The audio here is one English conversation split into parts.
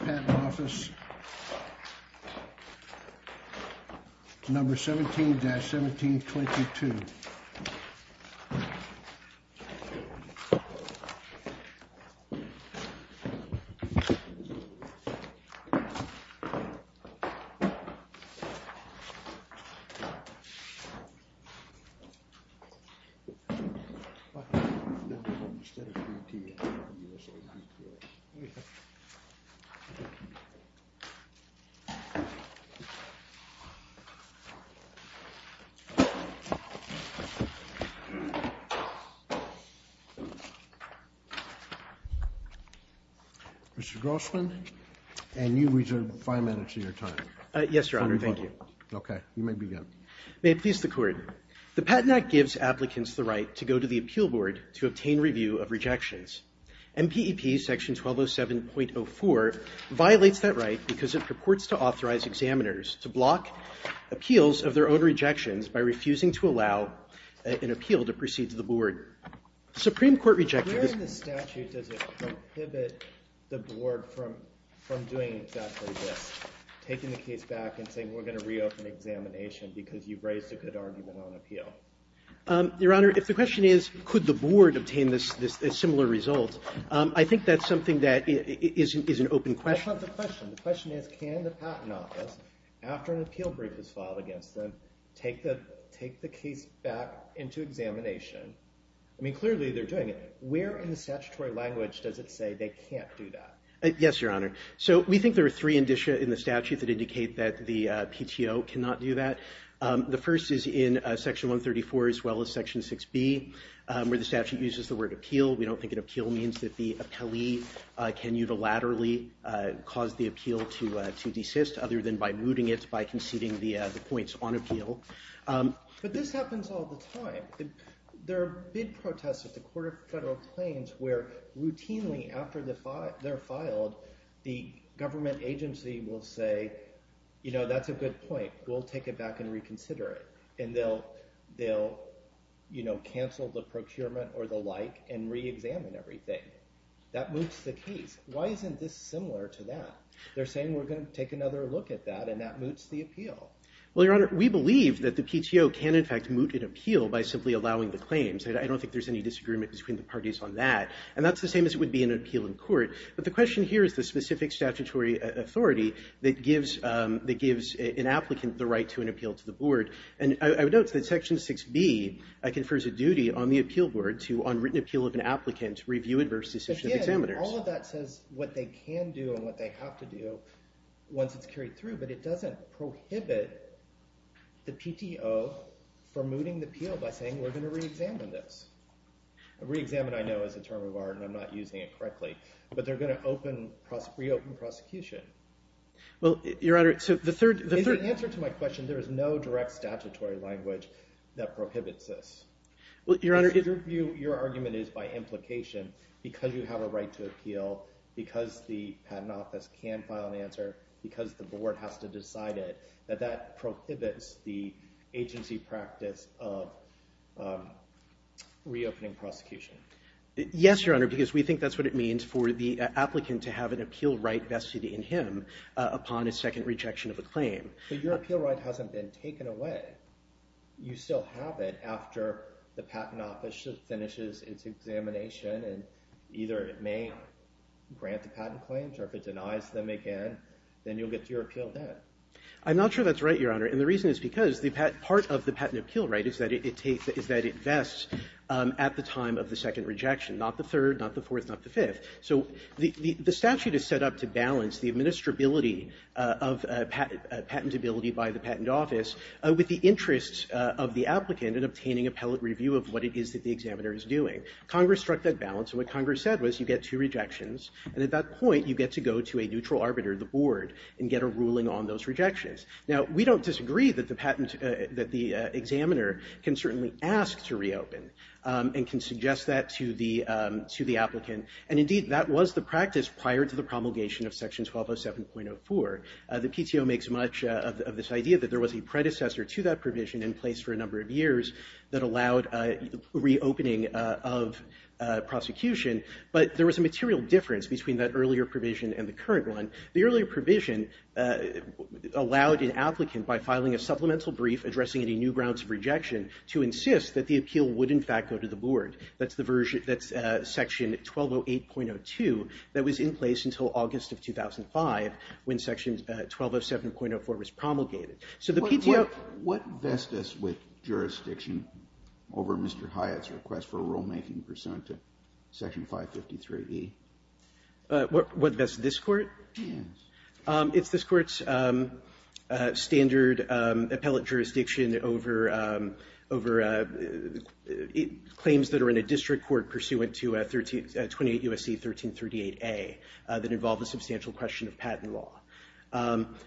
Patent Office 17-1722 Mr. Grossman, and you reserve five minutes of your time. Yes, Your Honor, thank you. Okay, you may begin. May it please the Court. The Patent Act gives applicants the right to go to the Appeal Board to obtain review of rejections. MPEP Section 1207.04 violates that right because it purports to authorize examiners to block appeals of their own rejections by refusing to allow an appeal to proceed to the Board. Supreme Court rejectors... Where in the statute does it prohibit the Board from doing exactly this, taking the case back and saying we're going to reopen examination because you've raised a good argument on appeal? Your Honor, if the question is could the Board obtain this similar result, I think that's something that is an open question. That's not the question. The question is can the Patent Office, after an appeal brief is filed against them, take the case back into examination? I mean, clearly they're doing it. Where in the statutory language does it say they can't do that? Yes, Your Honor. So we think there are three indicia in the statute that indicate that the PTO cannot do that. The first is in Section 134 as well as Section 6B where the statute uses the word appeal. We don't think an appeal means that the appellee can unilaterally cause the appeal to desist other than by mooting it, by conceding the points on appeal. But this happens all the time. There have been protests at the Court of Federal Claims where routinely after they're filed, the government agency will say, you know, that's a good point. We'll take it back and reconsider it. And they'll, you know, cancel the procurement or the like and reexamine everything. That moots the case. Why isn't this similar to that? They're saying we're going to take another look at that and that moots the appeal. Well, Your Honor, we believe that the PTO can, in fact, moot an appeal by simply allowing the claims. I don't think there's any disagreement between the parties on that. And that's the same as it would be in an appeal in court. But the question here is the specific statutory authority that gives an applicant the right to an appeal to the board. And I would note that Section 6B confers a duty on the appeal board to, on written appeal of an applicant, review adverse decisions of examiners. All of that says what they can do and what they have to do once it's carried through. But it doesn't prohibit the PTO from mooting the appeal by saying we're going to reexamine this. Reexamine, I know, is a term of art, and I'm not using it correctly. But they're going to reopen prosecution. Well, Your Honor, so the third – In answer to my question, there is no direct statutory language that prohibits this. Well, Your Honor – Your argument is by implication, because you have a right to appeal, because the Patent Office can file an answer, because the board has to decide it, that that prohibits the agency practice of reopening prosecution. Yes, Your Honor, because we think that's what it means for the applicant to have an appeal right vested in him upon a second rejection of a claim. But your appeal right hasn't been taken away. You still have it after the Patent Office finishes its examination. And either it may grant the patent claims, or if it denies them again, then you'll get your appeal then. I'm not sure that's right, Your Honor. And the reason is because part of the patent appeal right is that it takes – is that it vests at the time of the second rejection, not the third, not the fourth, not the fifth. So the statute is set up to balance the administrability of patentability by the Patent Office with the interests of the applicant in obtaining appellate review of what it is that the examiner is doing. Congress struck that balance, and what Congress said was you get two rejections, and at that point, you get to go to a neutral arbiter, the board, and get a ruling on those rejections. Now, we don't disagree that the patent – that the examiner can certainly ask to reopen and can suggest that to the applicant. And indeed, that was the practice prior to the promulgation of Section 1207.04. The PTO makes much of this idea that there was a predecessor to that provision in place for a number of years that allowed a reopening of prosecution. But there was a material difference between that earlier provision and the current one. The earlier provision allowed an applicant, by filing a supplemental brief addressing any new grounds of rejection, to insist that the appeal would, in fact, go to the board. That's the version – that's Section 1208.02 that was in place until August of 2005 when Section 1207.04 was promulgated. So the PTO – What vests this with jurisdiction over Mr. Hyatt's request for a rulemaking pursuant to Section 553e? What vests this court? Yes. It's this court's standard appellate jurisdiction over claims that are in a district court pursuant to 28 U.S.C. 1338a that involve a substantial question of patent law.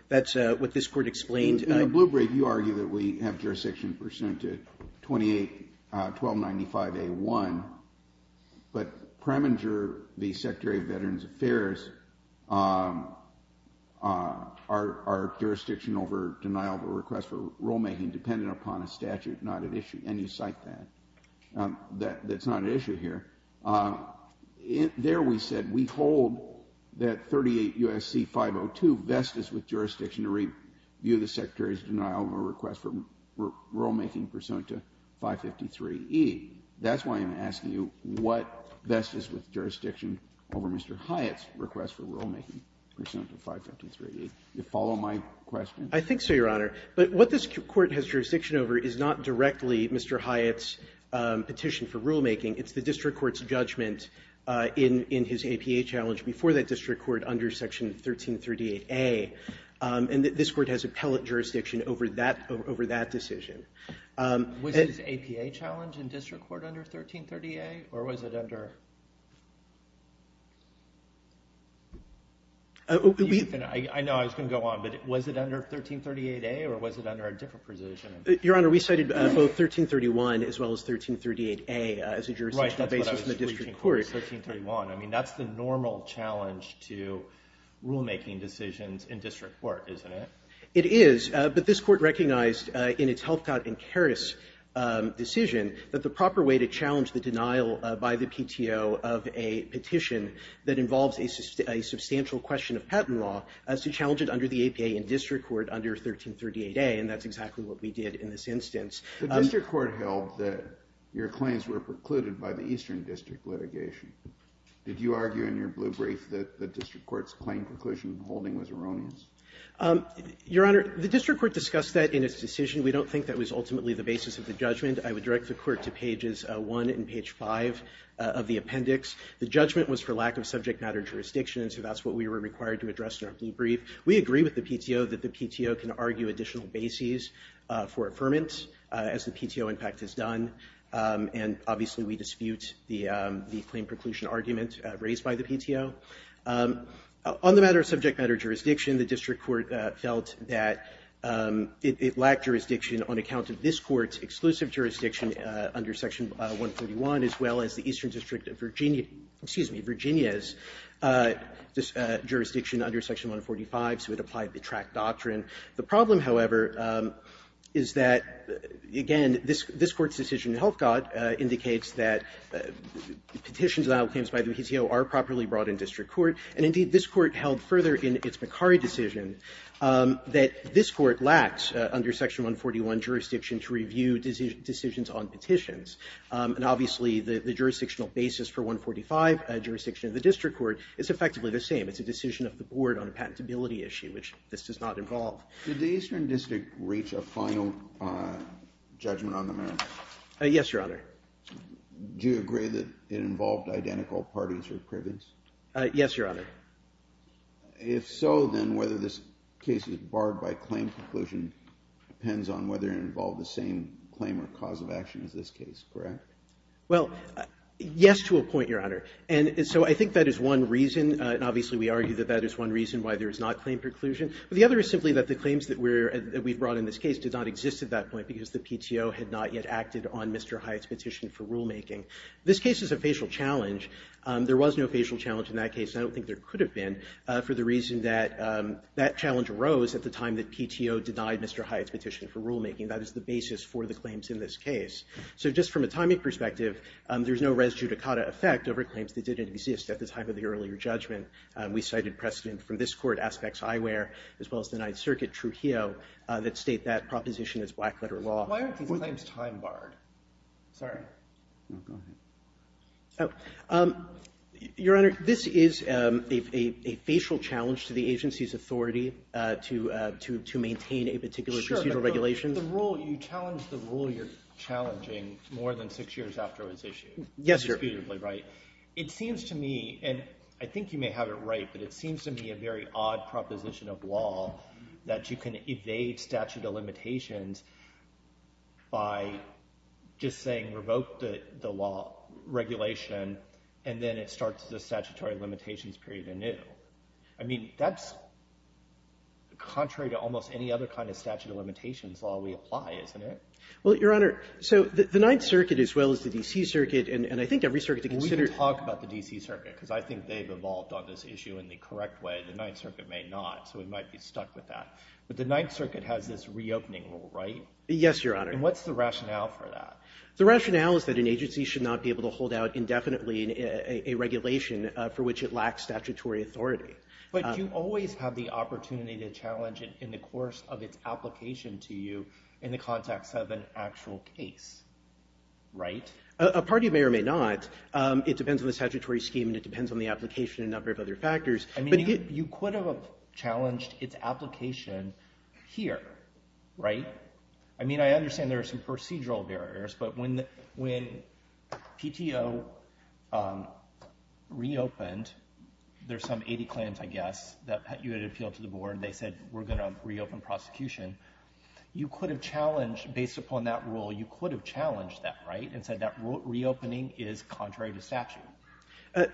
That's what this court explained. In the blue brief, you argue that we have jurisdiction pursuant to 28 1295a.1. But Preminger, the Secretary of Veterans Affairs, our jurisdiction over denial of a request for rulemaking dependent upon a statute not at issue. And you cite that. That's not at issue here. There we said we hold that 38 U.S.C. 502 vests this with jurisdiction to review the Secretary's denial of a request for rulemaking pursuant to 553e. That's why I'm asking you what vests this with jurisdiction over Mr. Hyatt's request for rulemaking pursuant to 553e. Do you follow my question? I think so, Your Honor. But what this court has jurisdiction over is not directly Mr. Hyatt's petition for rulemaking. It's the district court's judgment in his APA challenge before that district court under Section 1338a. And this court has appellate jurisdiction over that decision. Was his APA challenge in district court under 1338a? Or was it under? I know I was going to go on. But was it under 1338a? Or was it under a different position? Your Honor, we cited both 1331 as well as 1338a as a jurisdictional basis in the district court. Right, that's what I was reaching for, 1331. I mean, that's the normal challenge to rulemaking decisions in district court, isn't it? It is. But this court recognized in its Helfgott and Karras decision that the proper way to challenge the denial by the PTO of a petition that involves a substantial question of patent law is to challenge it under the APA in district court under 1338a. And that's exactly what we did in this instance. The district court held that your claims were precluded by the Eastern District litigation. Did you argue in your blue brief that the district court's claim preclusion holding was erroneous? Your Honor, the district court discussed that in its decision. We don't think that was ultimately the basis of the judgment. I would direct the Court to pages 1 and page 5 of the appendix. The judgment was for lack of subject matter jurisdiction, and so that's what we were required to address in our blue brief. We agree with the PTO that the PTO can argue additional bases for affirmance as the PTO, in fact, has done. And obviously, we dispute the claim preclusion argument raised by the PTO. On the matter of subject matter jurisdiction, the district court felt that it lacked jurisdiction on account of this Court's exclusive jurisdiction under Section 141, as well as the Eastern District of Virginia's jurisdiction under Section 145. So it applied the track doctrine. The problem, however, is that, again, this Court's decision in Helfgott indicates that petitions and outcomes by the PTO are properly brought in district court. And indeed, this Court held further in its McCurry decision that this Court lacked under Section 141 jurisdiction to review decisions on petitions. And obviously, the jurisdictional basis for 145, a jurisdiction of the district court, is effectively the same. It's a decision of the Board on a patentability issue, which this does not involve. Yes, Your Honor. Do you agree that it involved identical parties or privates? Yes, Your Honor. If so, then whether this case is barred by claim preclusion depends on whether it involved the same claim or cause of action as this case, correct? Well, yes to a point, Your Honor. And so I think that is one reason. And obviously, we argue that that is one reason why there is not claim preclusion. But the other is simply that the claims that we've brought in this case did not exist at that point because the PTO had not yet acted on Mr. Hyatt's petition for rulemaking. This case is a facial challenge. There was no facial challenge in that case, and I don't think there could have been, for the reason that that challenge arose at the time that PTO denied Mr. Hyatt's petition for rulemaking. That is the basis for the claims in this case. So just from a timing perspective, there's no res judicata effect over claims that didn't exist at the time of the earlier judgment. We cited precedent from this Court, Aspects Eyewear, as well as the Ninth Circuit, Trujillo, that state that proposition as black-letter law. Why aren't these claims time-barred? Sorry. No, go ahead. Your Honor, this is a facial challenge to the agency's authority to maintain a particular procedural regulation. Sure, but the rule, you challenge the rule you're challenging more than six years after it was issued. Yes, Your Honor. It seems to me, and I think you may have it right, but it seems to me a very odd proposition of law that you can evade statute of limitations by just saying revoke the law regulation, and then it starts the statutory limitations period anew. I mean, that's contrary to almost any other kind of statute of limitations law we apply, isn't it? Well, Your Honor, so the Ninth Circuit, as well as the D.C. Circuit, and I think every circuit to consider. We can talk about the D.C. Circuit, because I think they've evolved on this issue in the correct way. The Ninth Circuit may not, so we might be stuck with that. But the Ninth Circuit has this reopening rule, right? Yes, Your Honor. And what's the rationale for that? The rationale is that an agency should not be able to hold out indefinitely a regulation for which it lacks statutory authority. But you always have the opportunity to challenge it in the course of its application to you in the context of an actual case, right? A party may or may not. It depends on the statutory scheme, and it depends on the application and a number of other factors. I mean, you could have challenged its application here, right? I mean, I understand there are some procedural barriers, but when PTO reopened, there's some 80 claims, I guess, that you had appealed to the board. They said, we're going to reopen prosecution. You could have challenged, based upon that rule, you could have challenged that, right, and said that reopening is contrary to statute.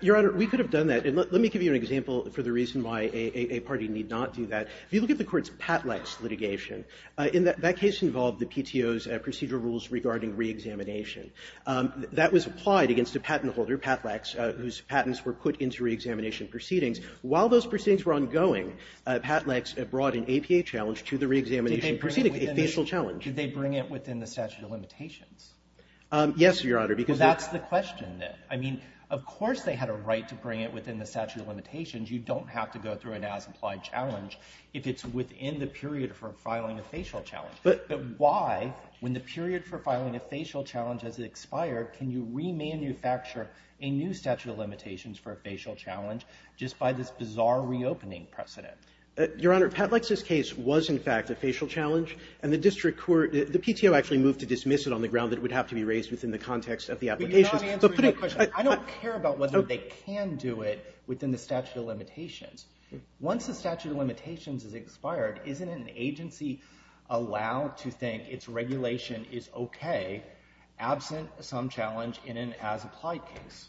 Your Honor, we could have done that. And let me give you an example for the reason why a party need not do that. If you look at the Court's Patleks litigation, that case involved the PTO's procedural rules regarding reexamination. That was applied against a patent holder, Patleks, whose patents were put into reexamination proceedings. While those proceedings were ongoing, Patleks brought an APA challenge to the reexamination proceeding, a facial challenge. Did they bring it within the statute of limitations? Yes, Your Honor. Well, that's the question, then. I mean, of course they had a right to bring it within the statute of limitations. You don't have to go through an as-implied challenge if it's within the period for filing a facial challenge. But why, when the period for filing a facial challenge has expired, can you remanufacture a new statute of limitations for a facial challenge just by this bizarre reopening precedent? Your Honor, Patleks' case was, in fact, a facial challenge. And the district court, the PTO actually moved to dismiss it on the ground that it would have to be raised within the context of the application. But you're not answering my question. I don't care about whether they can do it within the statute of limitations. Once the statute of limitations has expired, isn't an agency allowed to think its regulation is okay, absent some challenge in an as-implied case?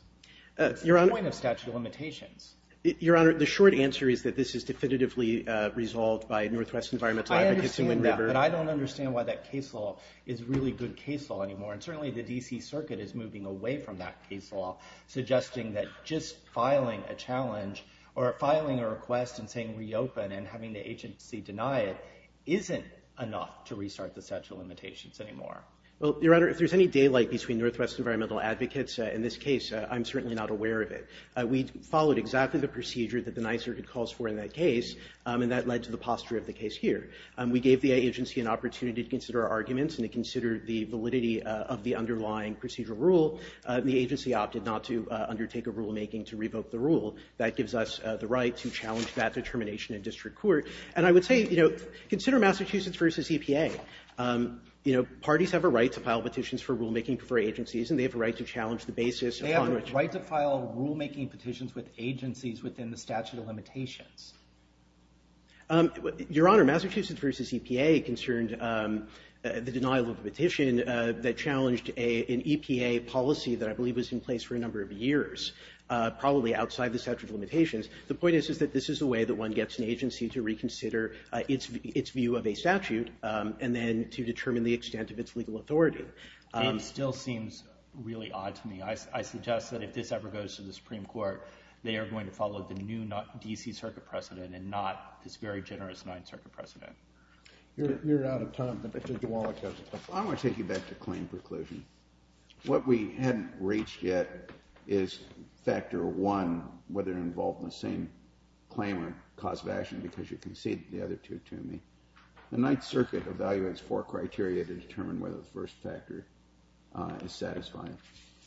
That's the point of statute of limitations. Your Honor, the short answer is that this is definitively resolved by Northwest Environmental Advocates in Wind River. I understand that. But I don't understand why that case law is really good case law anymore. And certainly, the D.C. Circuit is moving away from that case law, suggesting that just filing a challenge or filing a request and saying reopen and having the agency deny it isn't enough to restart the statute of limitations anymore. Well, Your Honor, if there's any daylight between Northwest Environmental Advocates in this case, I'm certainly not aware of it. We followed exactly the procedure that the Ninth Circuit calls for in that case, and that led to the posture of the case here. We gave the agency an opportunity to consider our arguments and to consider the validity of the underlying procedural rule. The agency opted not to undertake a rulemaking to revoke the rule. That gives us the right to challenge that determination in district court. And I would say, you know, consider Massachusetts v. EPA. You know, parties have a right to file petitions for rulemaking for agencies, and they have a right to challenge the basis upon which they file rulemaking petitions with agencies within the statute of limitations. Your Honor, Massachusetts v. EPA concerned the denial of the petition that challenged an EPA policy that I believe was in place for a number of years, probably outside the statute of limitations. The point is, is that this is a way that one gets an agency to reconsider its view of a statute and then to determine the extent of its legal authority. It still seems really odd to me. I suggest that if this ever goes to the Supreme Court, they are going to follow the new D.C. Circuit precedent and not this very generous Ninth Circuit precedent. You're out of time. Mr. DiWallach has the floor. I want to take you back to claim preclusion. What we hadn't reached yet is factor one, whether involved in the same claim or cause of action, because you conceded the other two to me. The Ninth Circuit evaluates four criteria to determine whether the first factor is satisfying,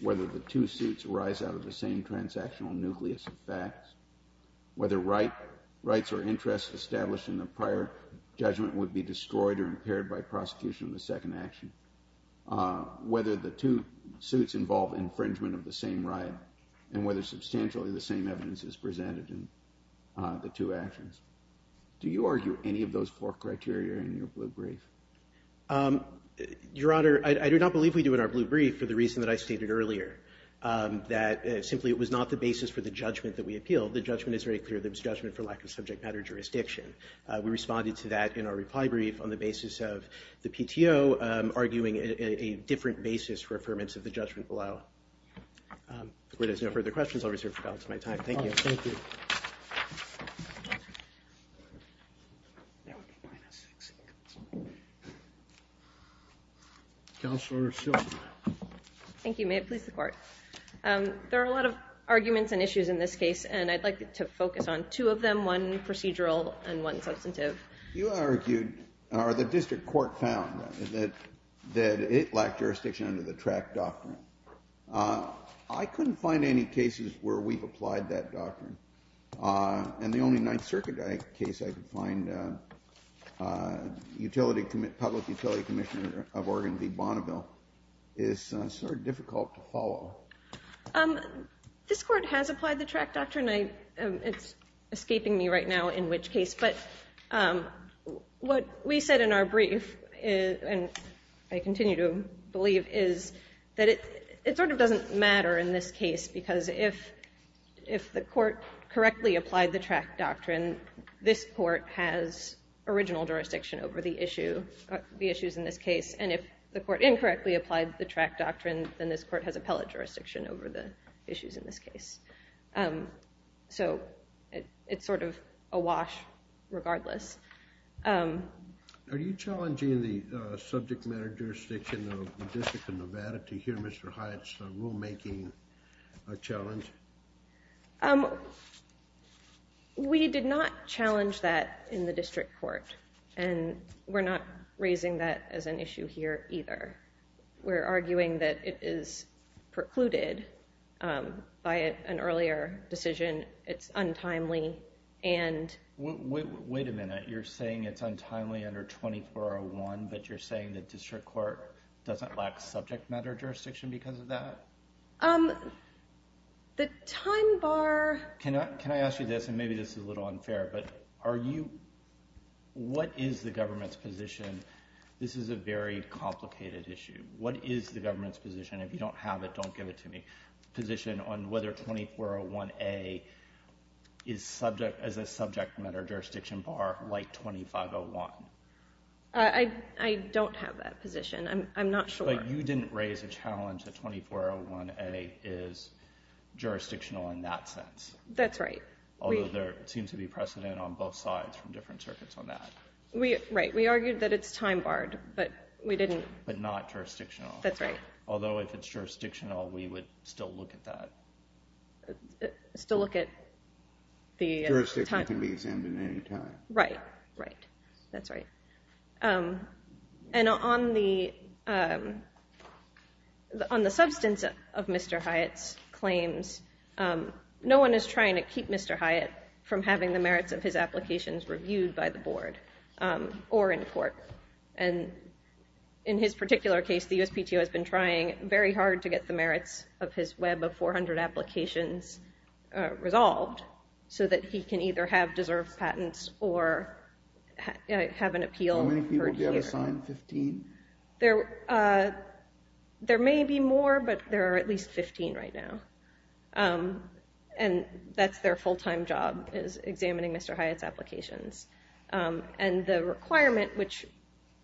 whether the two suits arise out of the same transactional nucleus of facts, whether rights or interests established in the prior judgment would be destroyed or impaired by prosecution of the second action, whether the two suits involve infringement of the same right, and whether substantially the same evidence is presented in the two actions. Do you argue any of those four criteria in your blue brief? Your Honor, I do not believe we do in our blue brief for the reason that I stated earlier, that simply it was not the basis for the judgment that we appealed. The judgment is very clear. There was judgment for lack of subject matter jurisdiction. We responded to that in our reply brief on the basis of the PTO arguing a different basis for affirmance of the judgment below. If there's no further questions, I'll reserve the balance of my time. Thank you. Thank you. Counselor Schill. Thank you. May it please the Court. There are a lot of arguments and issues in this case, and I'd like to focus on two of them, one procedural and one substantive. Your Honor, the district court found that it lacked jurisdiction under the track doctrine. I couldn't find any cases where we've applied that doctrine, and the only Ninth Circuit case I could find, Public Utility Commissioner of Oregon v. Bonneville, is sort of difficult to follow. This Court has applied the track doctrine. It's escaping me right now in which case. But what we said in our brief, and I continue to believe, is that it sort of doesn't matter in this case, because if the Court correctly applied the track doctrine, then this Court has original jurisdiction over the issues in this case, and if the Court incorrectly applied the track doctrine, then this Court has appellate jurisdiction over the issues in this case. So it's sort of awash regardless. Are you challenging the subject matter jurisdiction of the District of Nevada to hear Mr. Hyatt's rulemaking challenge? We did not challenge that in the district court, and we're not raising that as an issue here either. We're arguing that it is precluded by an earlier decision. It's untimely, and... Wait a minute. You're saying it's untimely under 2401, but you're saying the district court doesn't lack subject matter jurisdiction because of that? The time bar... Can I ask you this, and maybe this is a little unfair, but what is the government's position? This is a very complicated issue. What is the government's position? If you don't have it, don't give it to me. Position on whether 2401A is a subject matter jurisdiction bar like 2501. I don't have that position. I'm not sure. But you didn't raise a challenge that 2401A is jurisdictional in that sense. That's right. Although there seems to be precedent on both sides from different circuits on that. Right. We argued that it's time barred, but we didn't... But not jurisdictional. That's right. Although if it's jurisdictional, we would still look at that. Still look at the... Jurisdiction can be examined at any time. Right. Right. That's right. And on the substance of Mr. Hyatt's claims, no one is trying to keep Mr. Hyatt from having the merits of his applications reviewed by the board or in court. And in his particular case, the USPTO has been trying very hard to get the merits of his web of 400 applications resolved so that he can either have deserved patents or have an appeal heard here. How many people do you have assigned? 15? There may be more, but there are at least 15 right now. And that's their full-time job is examining Mr. Hyatt's applications. And the requirement, which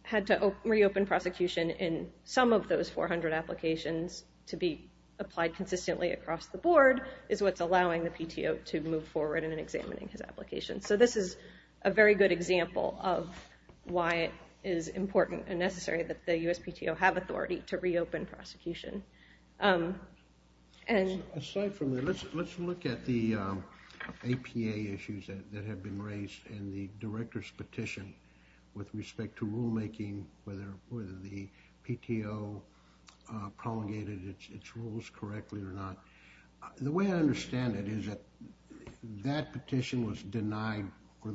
had to reopen prosecution in some of those 400 applications to be applied consistently across the board, is what's allowing the PTO to move forward in examining his applications. So this is a very good example of why it is important and necessary that the USPTO have authority to reopen prosecution. Aside from that, let's look at the APA issues that have been raised and the director's petition with respect to rulemaking, whether the PTO promulgated its rules correctly or not. The way I understand it is that that petition was denied for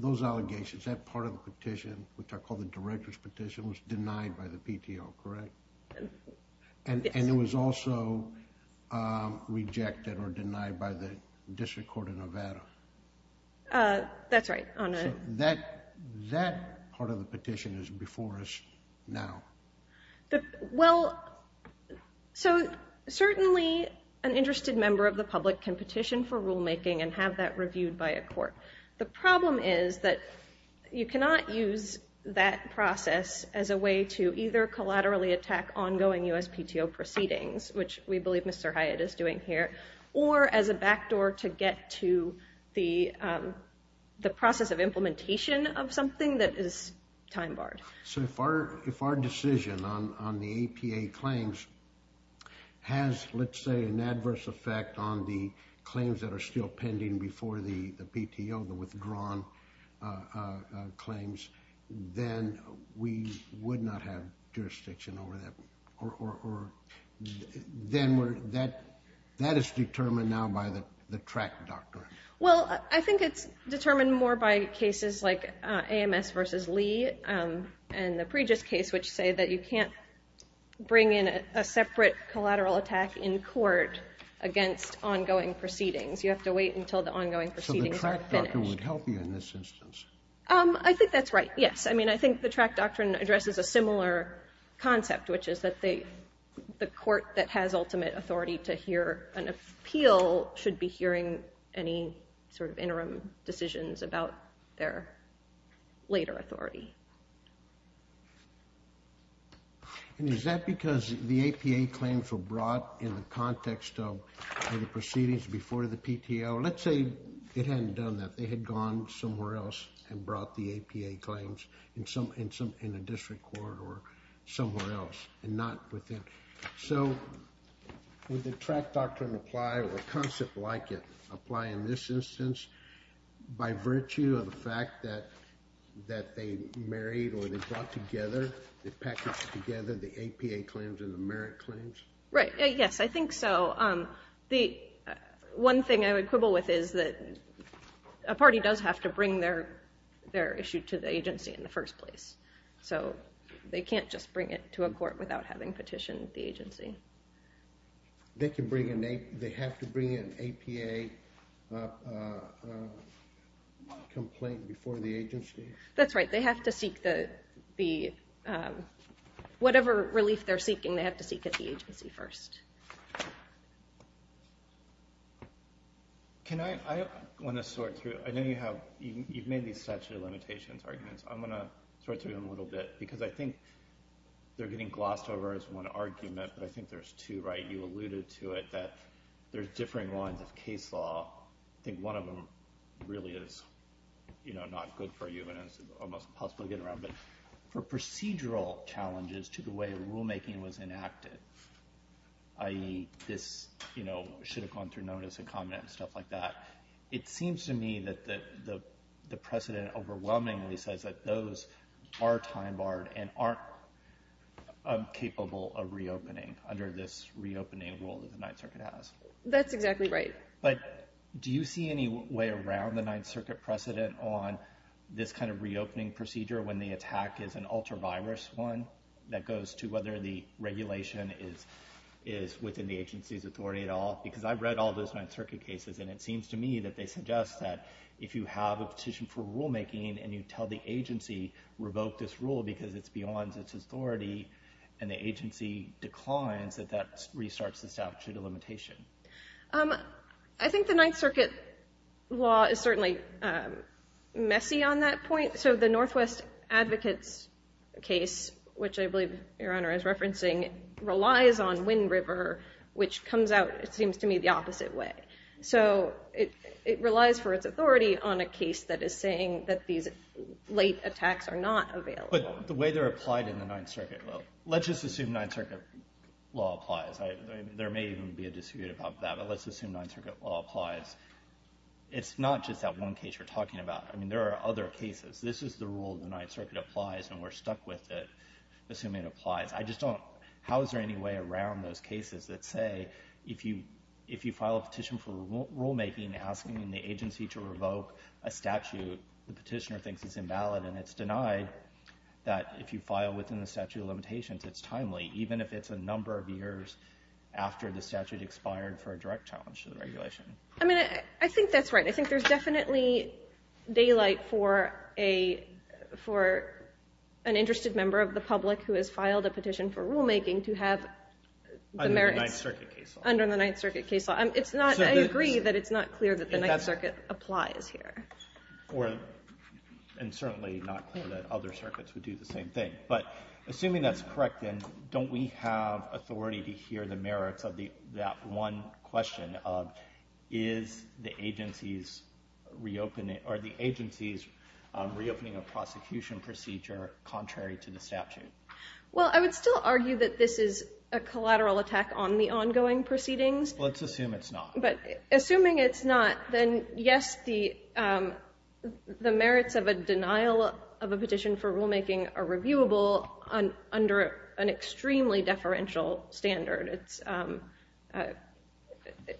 those allegations. That part of the petition, which I call the director's petition, was denied by the PTO, correct? And it was also rejected or denied by the District Court of Nevada. That's right. So that part of the petition is before us now. Well, so certainly an interested member of the public can petition for rulemaking and have that reviewed by a court. The problem is that you cannot use that process as a way to either collaterally attack ongoing USPTO proceedings, which we believe Mr. Hyatt is doing here, or as a backdoor to get to the process of implementation of something that is time-barred. So if our decision on the APA claims has, let's say, an adverse effect on the claims that are still pending before the PTO, the withdrawn claims, then we would not have jurisdiction over that. Then that is determined now by the track doctrine. Well, I think it's determined more by cases like AMS v. Lee and the Pregis case, which say that you can't bring in a separate collateral attack in court against ongoing proceedings. You have to wait until the ongoing proceedings are finished. So the track doctrine would help you in this instance? I think that's right, yes. I mean, I think the track doctrine addresses a similar concept, which is that the court that has ultimate authority to hear an appeal should be hearing any sort of interim decisions about their later authority. And is that because the APA claims were brought in the context of the proceedings before the PTO? Let's say it hadn't done that. They had gone somewhere else and brought the APA claims in a district court or somewhere else and not within. So would the track doctrine apply or a concept like it apply in this instance by virtue of the fact that they married or they brought together, they packaged together the APA claims and the merit claims? Right, yes, I think so. One thing I would quibble with is that a party does have to bring their issue to the agency in the first place. So they can't just bring it to a court without having petitioned the agency. They have to bring in an APA complaint before the agency? That's right. They have to seek the, whatever relief they're seeking, they have to seek at the agency first. Can I, I want to sort through, I know you have, you've made these statute of limitations arguments. I'm going to sort through them a little bit because I think they're getting glossed over as one argument, but I think there's two, right? You alluded to it, that there's differing lines of case law. I think one of them really is not good for you and it's almost impossible to get around, but for procedural challenges to the way rulemaking was enacted, i.e. this should have gone through notice and comment and stuff like that, it seems to me that the precedent overwhelmingly says that those are time barred and aren't capable of reopening under this reopening rule that the Ninth Circuit has. That's exactly right. But do you see any way around the Ninth Circuit precedent on this kind of reopening procedure when the attack is an ultra-virus one that goes to whether the regulation is within the agency's authority at all? Because I've read all those Ninth Circuit cases and it seems to me that they suggest that if you have a petition for rulemaking and you tell the agency, revoke this rule because it's beyond its authority and the agency declines, that that restarts the statute of limitation. I think the Ninth Circuit law is certainly messy on that point. So the Northwest Advocates case, which I believe Your Honor is referencing, relies on Wind River, which comes out, it seems to me, the opposite way. So it relies for its authority on a case that is saying that these late attacks are not available. But the way they're applied in the Ninth Circuit, let's just assume Ninth Circuit law applies. There may even be a dispute about that, but let's assume Ninth Circuit law applies. It's not just that one case you're talking about. I mean there are other cases. This is the rule the Ninth Circuit applies and we're stuck with it, assuming it applies. How is there any way around those cases that say if you file a petition for rulemaking asking the agency to revoke a statute the petitioner thinks is invalid and it's denied that if you file within the statute of limitations it's timely, even if it's a number of years after the statute expired for a direct challenge to the regulation? I mean I think that's right. I think there's definitely daylight for an interested member of the public who has filed a petition for rulemaking to have the merits under the Ninth Circuit case law. I agree that it's not clear that the Ninth Circuit applies here. And certainly not clear that other circuits would do the same thing. But assuming that's correct then, don't we have authority to hear the merits of that one question of are the agencies reopening a prosecution procedure contrary to the statute? Well, I would still argue that this is a collateral attack on the ongoing proceedings. Let's assume it's not. But assuming it's not, then yes, the merits of a denial of a petition for rulemaking are reviewable under an extremely deferential standard.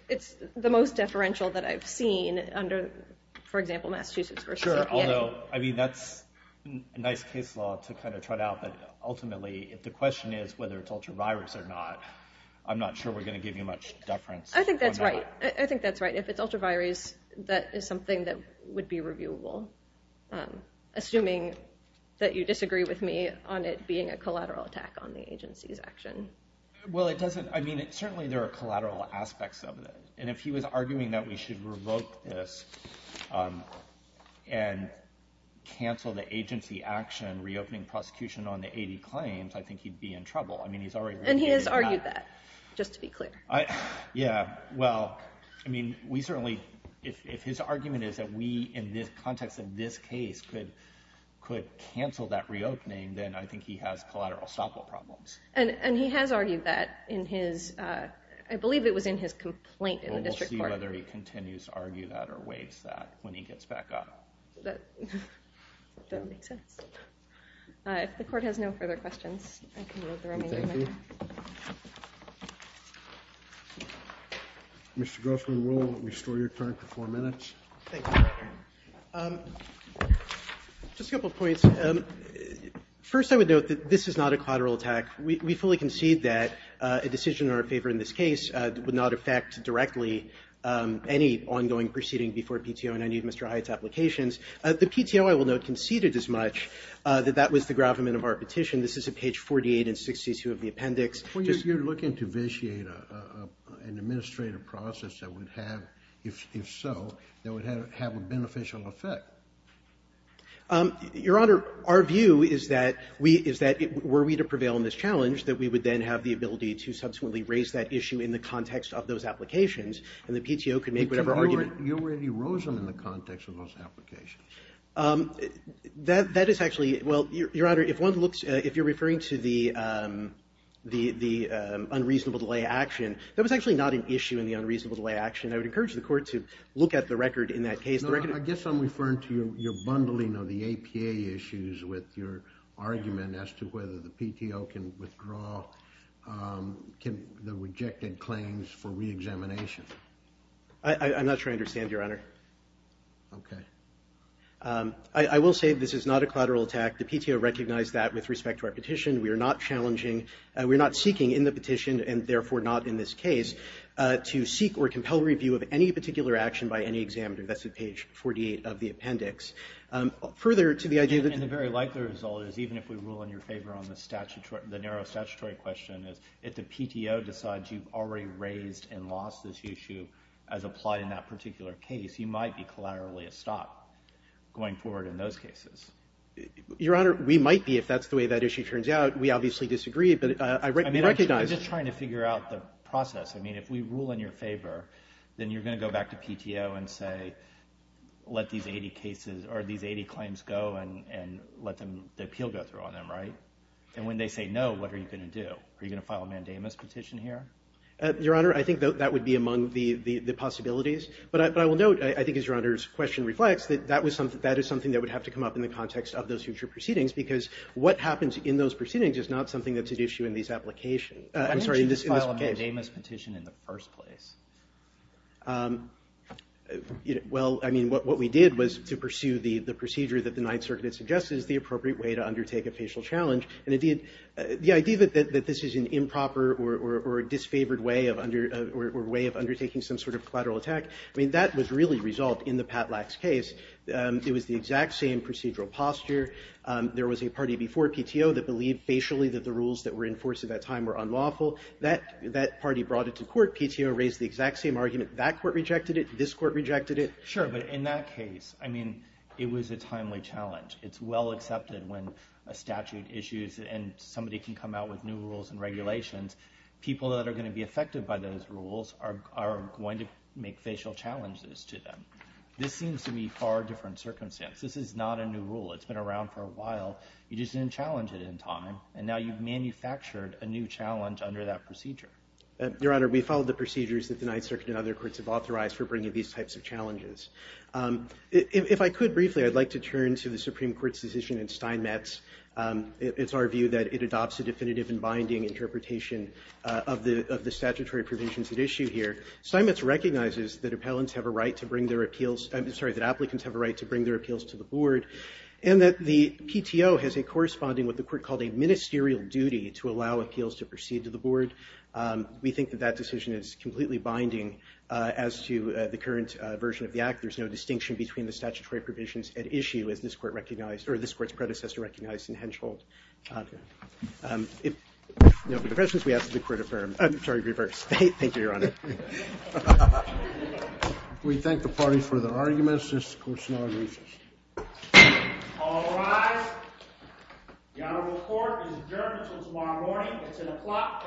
It's the most deferential that I've seen under, for example, Massachusetts v. Indiana. Sure, although I mean that's a nice case law to kind of trot out, but ultimately if the question is whether it's ultra-virus or not, I'm not sure we're going to give you much deference. I think that's right. I think that's right. If it's ultra-virus, that is something that would be reviewable. Assuming that you disagree with me on it being a collateral attack on the agency's action. Well, it doesn't. I mean, certainly there are collateral aspects of it. And if he was arguing that we should revoke this and cancel the agency action reopening prosecution on the 80 claims, I think he'd be in trouble. I mean, he's already— And he has argued that, just to be clear. Yeah, well, I mean, we certainly— if his argument is that we, in the context of this case, could cancel that reopening, then I think he has collateral stoppable problems. And he has argued that in his—I believe it was in his complaint in the district court. Well, we'll see whether he continues to argue that or waives that when he gets back up. That makes sense. If the court has no further questions, I can move the remainder of my time. Thank you. Mr. Grossman, we'll restore your time to four minutes. Thanks, Your Honor. Just a couple of points. First, I would note that this is not a collateral attack. We fully concede that a decision in our favor in this case would not affect directly any ongoing proceeding before PTO and any of Mr. Hyatt's applications. The PTO, I will note, conceded as much that that was the gravamen of our petition. This is at page 48 and 62 of the appendix. Well, you're looking to vitiate an administrative process that would have— if so, that would have a beneficial effect. Your Honor, our view is that we—is that were we to prevail in this challenge, that we would then have the ability to subsequently raise that issue in the context of those applications, and the PTO could make whatever argument— you already rose them in the context of those applications. That is actually—well, Your Honor, if one looks—if you're referring to the unreasonable delay action, that was actually not an issue in the unreasonable delay action. I would encourage the Court to look at the record in that case. No, I guess I'm referring to your bundling of the APA issues with your argument as to whether the PTO can withdraw the rejected claims for reexamination. I'm not sure I understand, Your Honor. Okay. I will say this is not a collateral attack. The PTO recognized that with respect to our petition. We are not challenging—we're not seeking in the petition, and therefore not in this case, to seek or compel review of any particular action by any examiner. That's at page 48 of the appendix. Further to the idea that— And a very likely result is, even if we rule in your favor on the narrow statutory question, is if the PTO decides you've already raised and lost this issue as applied in that particular case, you might be collaterally a stop going forward in those cases. Your Honor, we might be, if that's the way that issue turns out. We obviously disagree, but I recognize— I'm just trying to figure out the process. I mean, if we rule in your favor, then you're going to go back to PTO and say, let these 80 cases—or these 80 claims go and let the appeal go through on them, right? And when they say no, what are you going to do? Are you going to file a mandamus petition here? Your Honor, I think that would be among the possibilities. But I will note, I think as Your Honor's question reflects, that that is something that would have to come up in the context of those future proceedings because what happens in those proceedings is not something that's at issue in these applications. Why didn't you file a mandamus petition in the first place? Well, I mean, what we did was to pursue the procedure that the Ninth Circuit suggests is the appropriate way to undertake a facial challenge. And the idea that this is an improper or disfavored way of undertaking some sort of collateral attack, I mean, that was really resolved in the Patlax case. It was the exact same procedural posture. There was a party before PTO that believed facially that the rules that were in force at that time were unlawful. That party brought it to court. PTO raised the exact same argument. That court rejected it. This court rejected it. Sure, but in that case, I mean, it was a timely challenge. It's well accepted when a statute issues and somebody can come out with new rules and regulations. People that are going to be affected by those rules are going to make facial challenges to them. This seems to me far different circumstance. This is not a new rule. It's been around for a while. You just didn't challenge it in time. And now you've manufactured a new challenge under that procedure. Your Honor, we followed the procedures that the Ninth Circuit and other courts have authorized for bringing these types of challenges. If I could briefly, I'd like to turn to the Supreme Court's decision in Steinmetz. It's our view that it adopts a definitive and binding interpretation of the statutory provisions at issue here. Steinmetz recognizes that applicants have a right to bring their appeals to the board and that the PTO has a corresponding what the court called a ministerial duty to allow appeals to proceed to the board. We think that that decision is completely binding as to the current version of the act. There's no distinction between the statutory provisions at issue as this court recognized or this court's predecessor recognized in Henschel. If no further questions, we ask that the court affirm. I'm sorry, reverse. Thank you, Your Honor. We thank the party for their arguments. This court is now in recess. All rise. The Honorable Court is adjourned until tomorrow morning. That's an applaud. Thank you, Your Honor.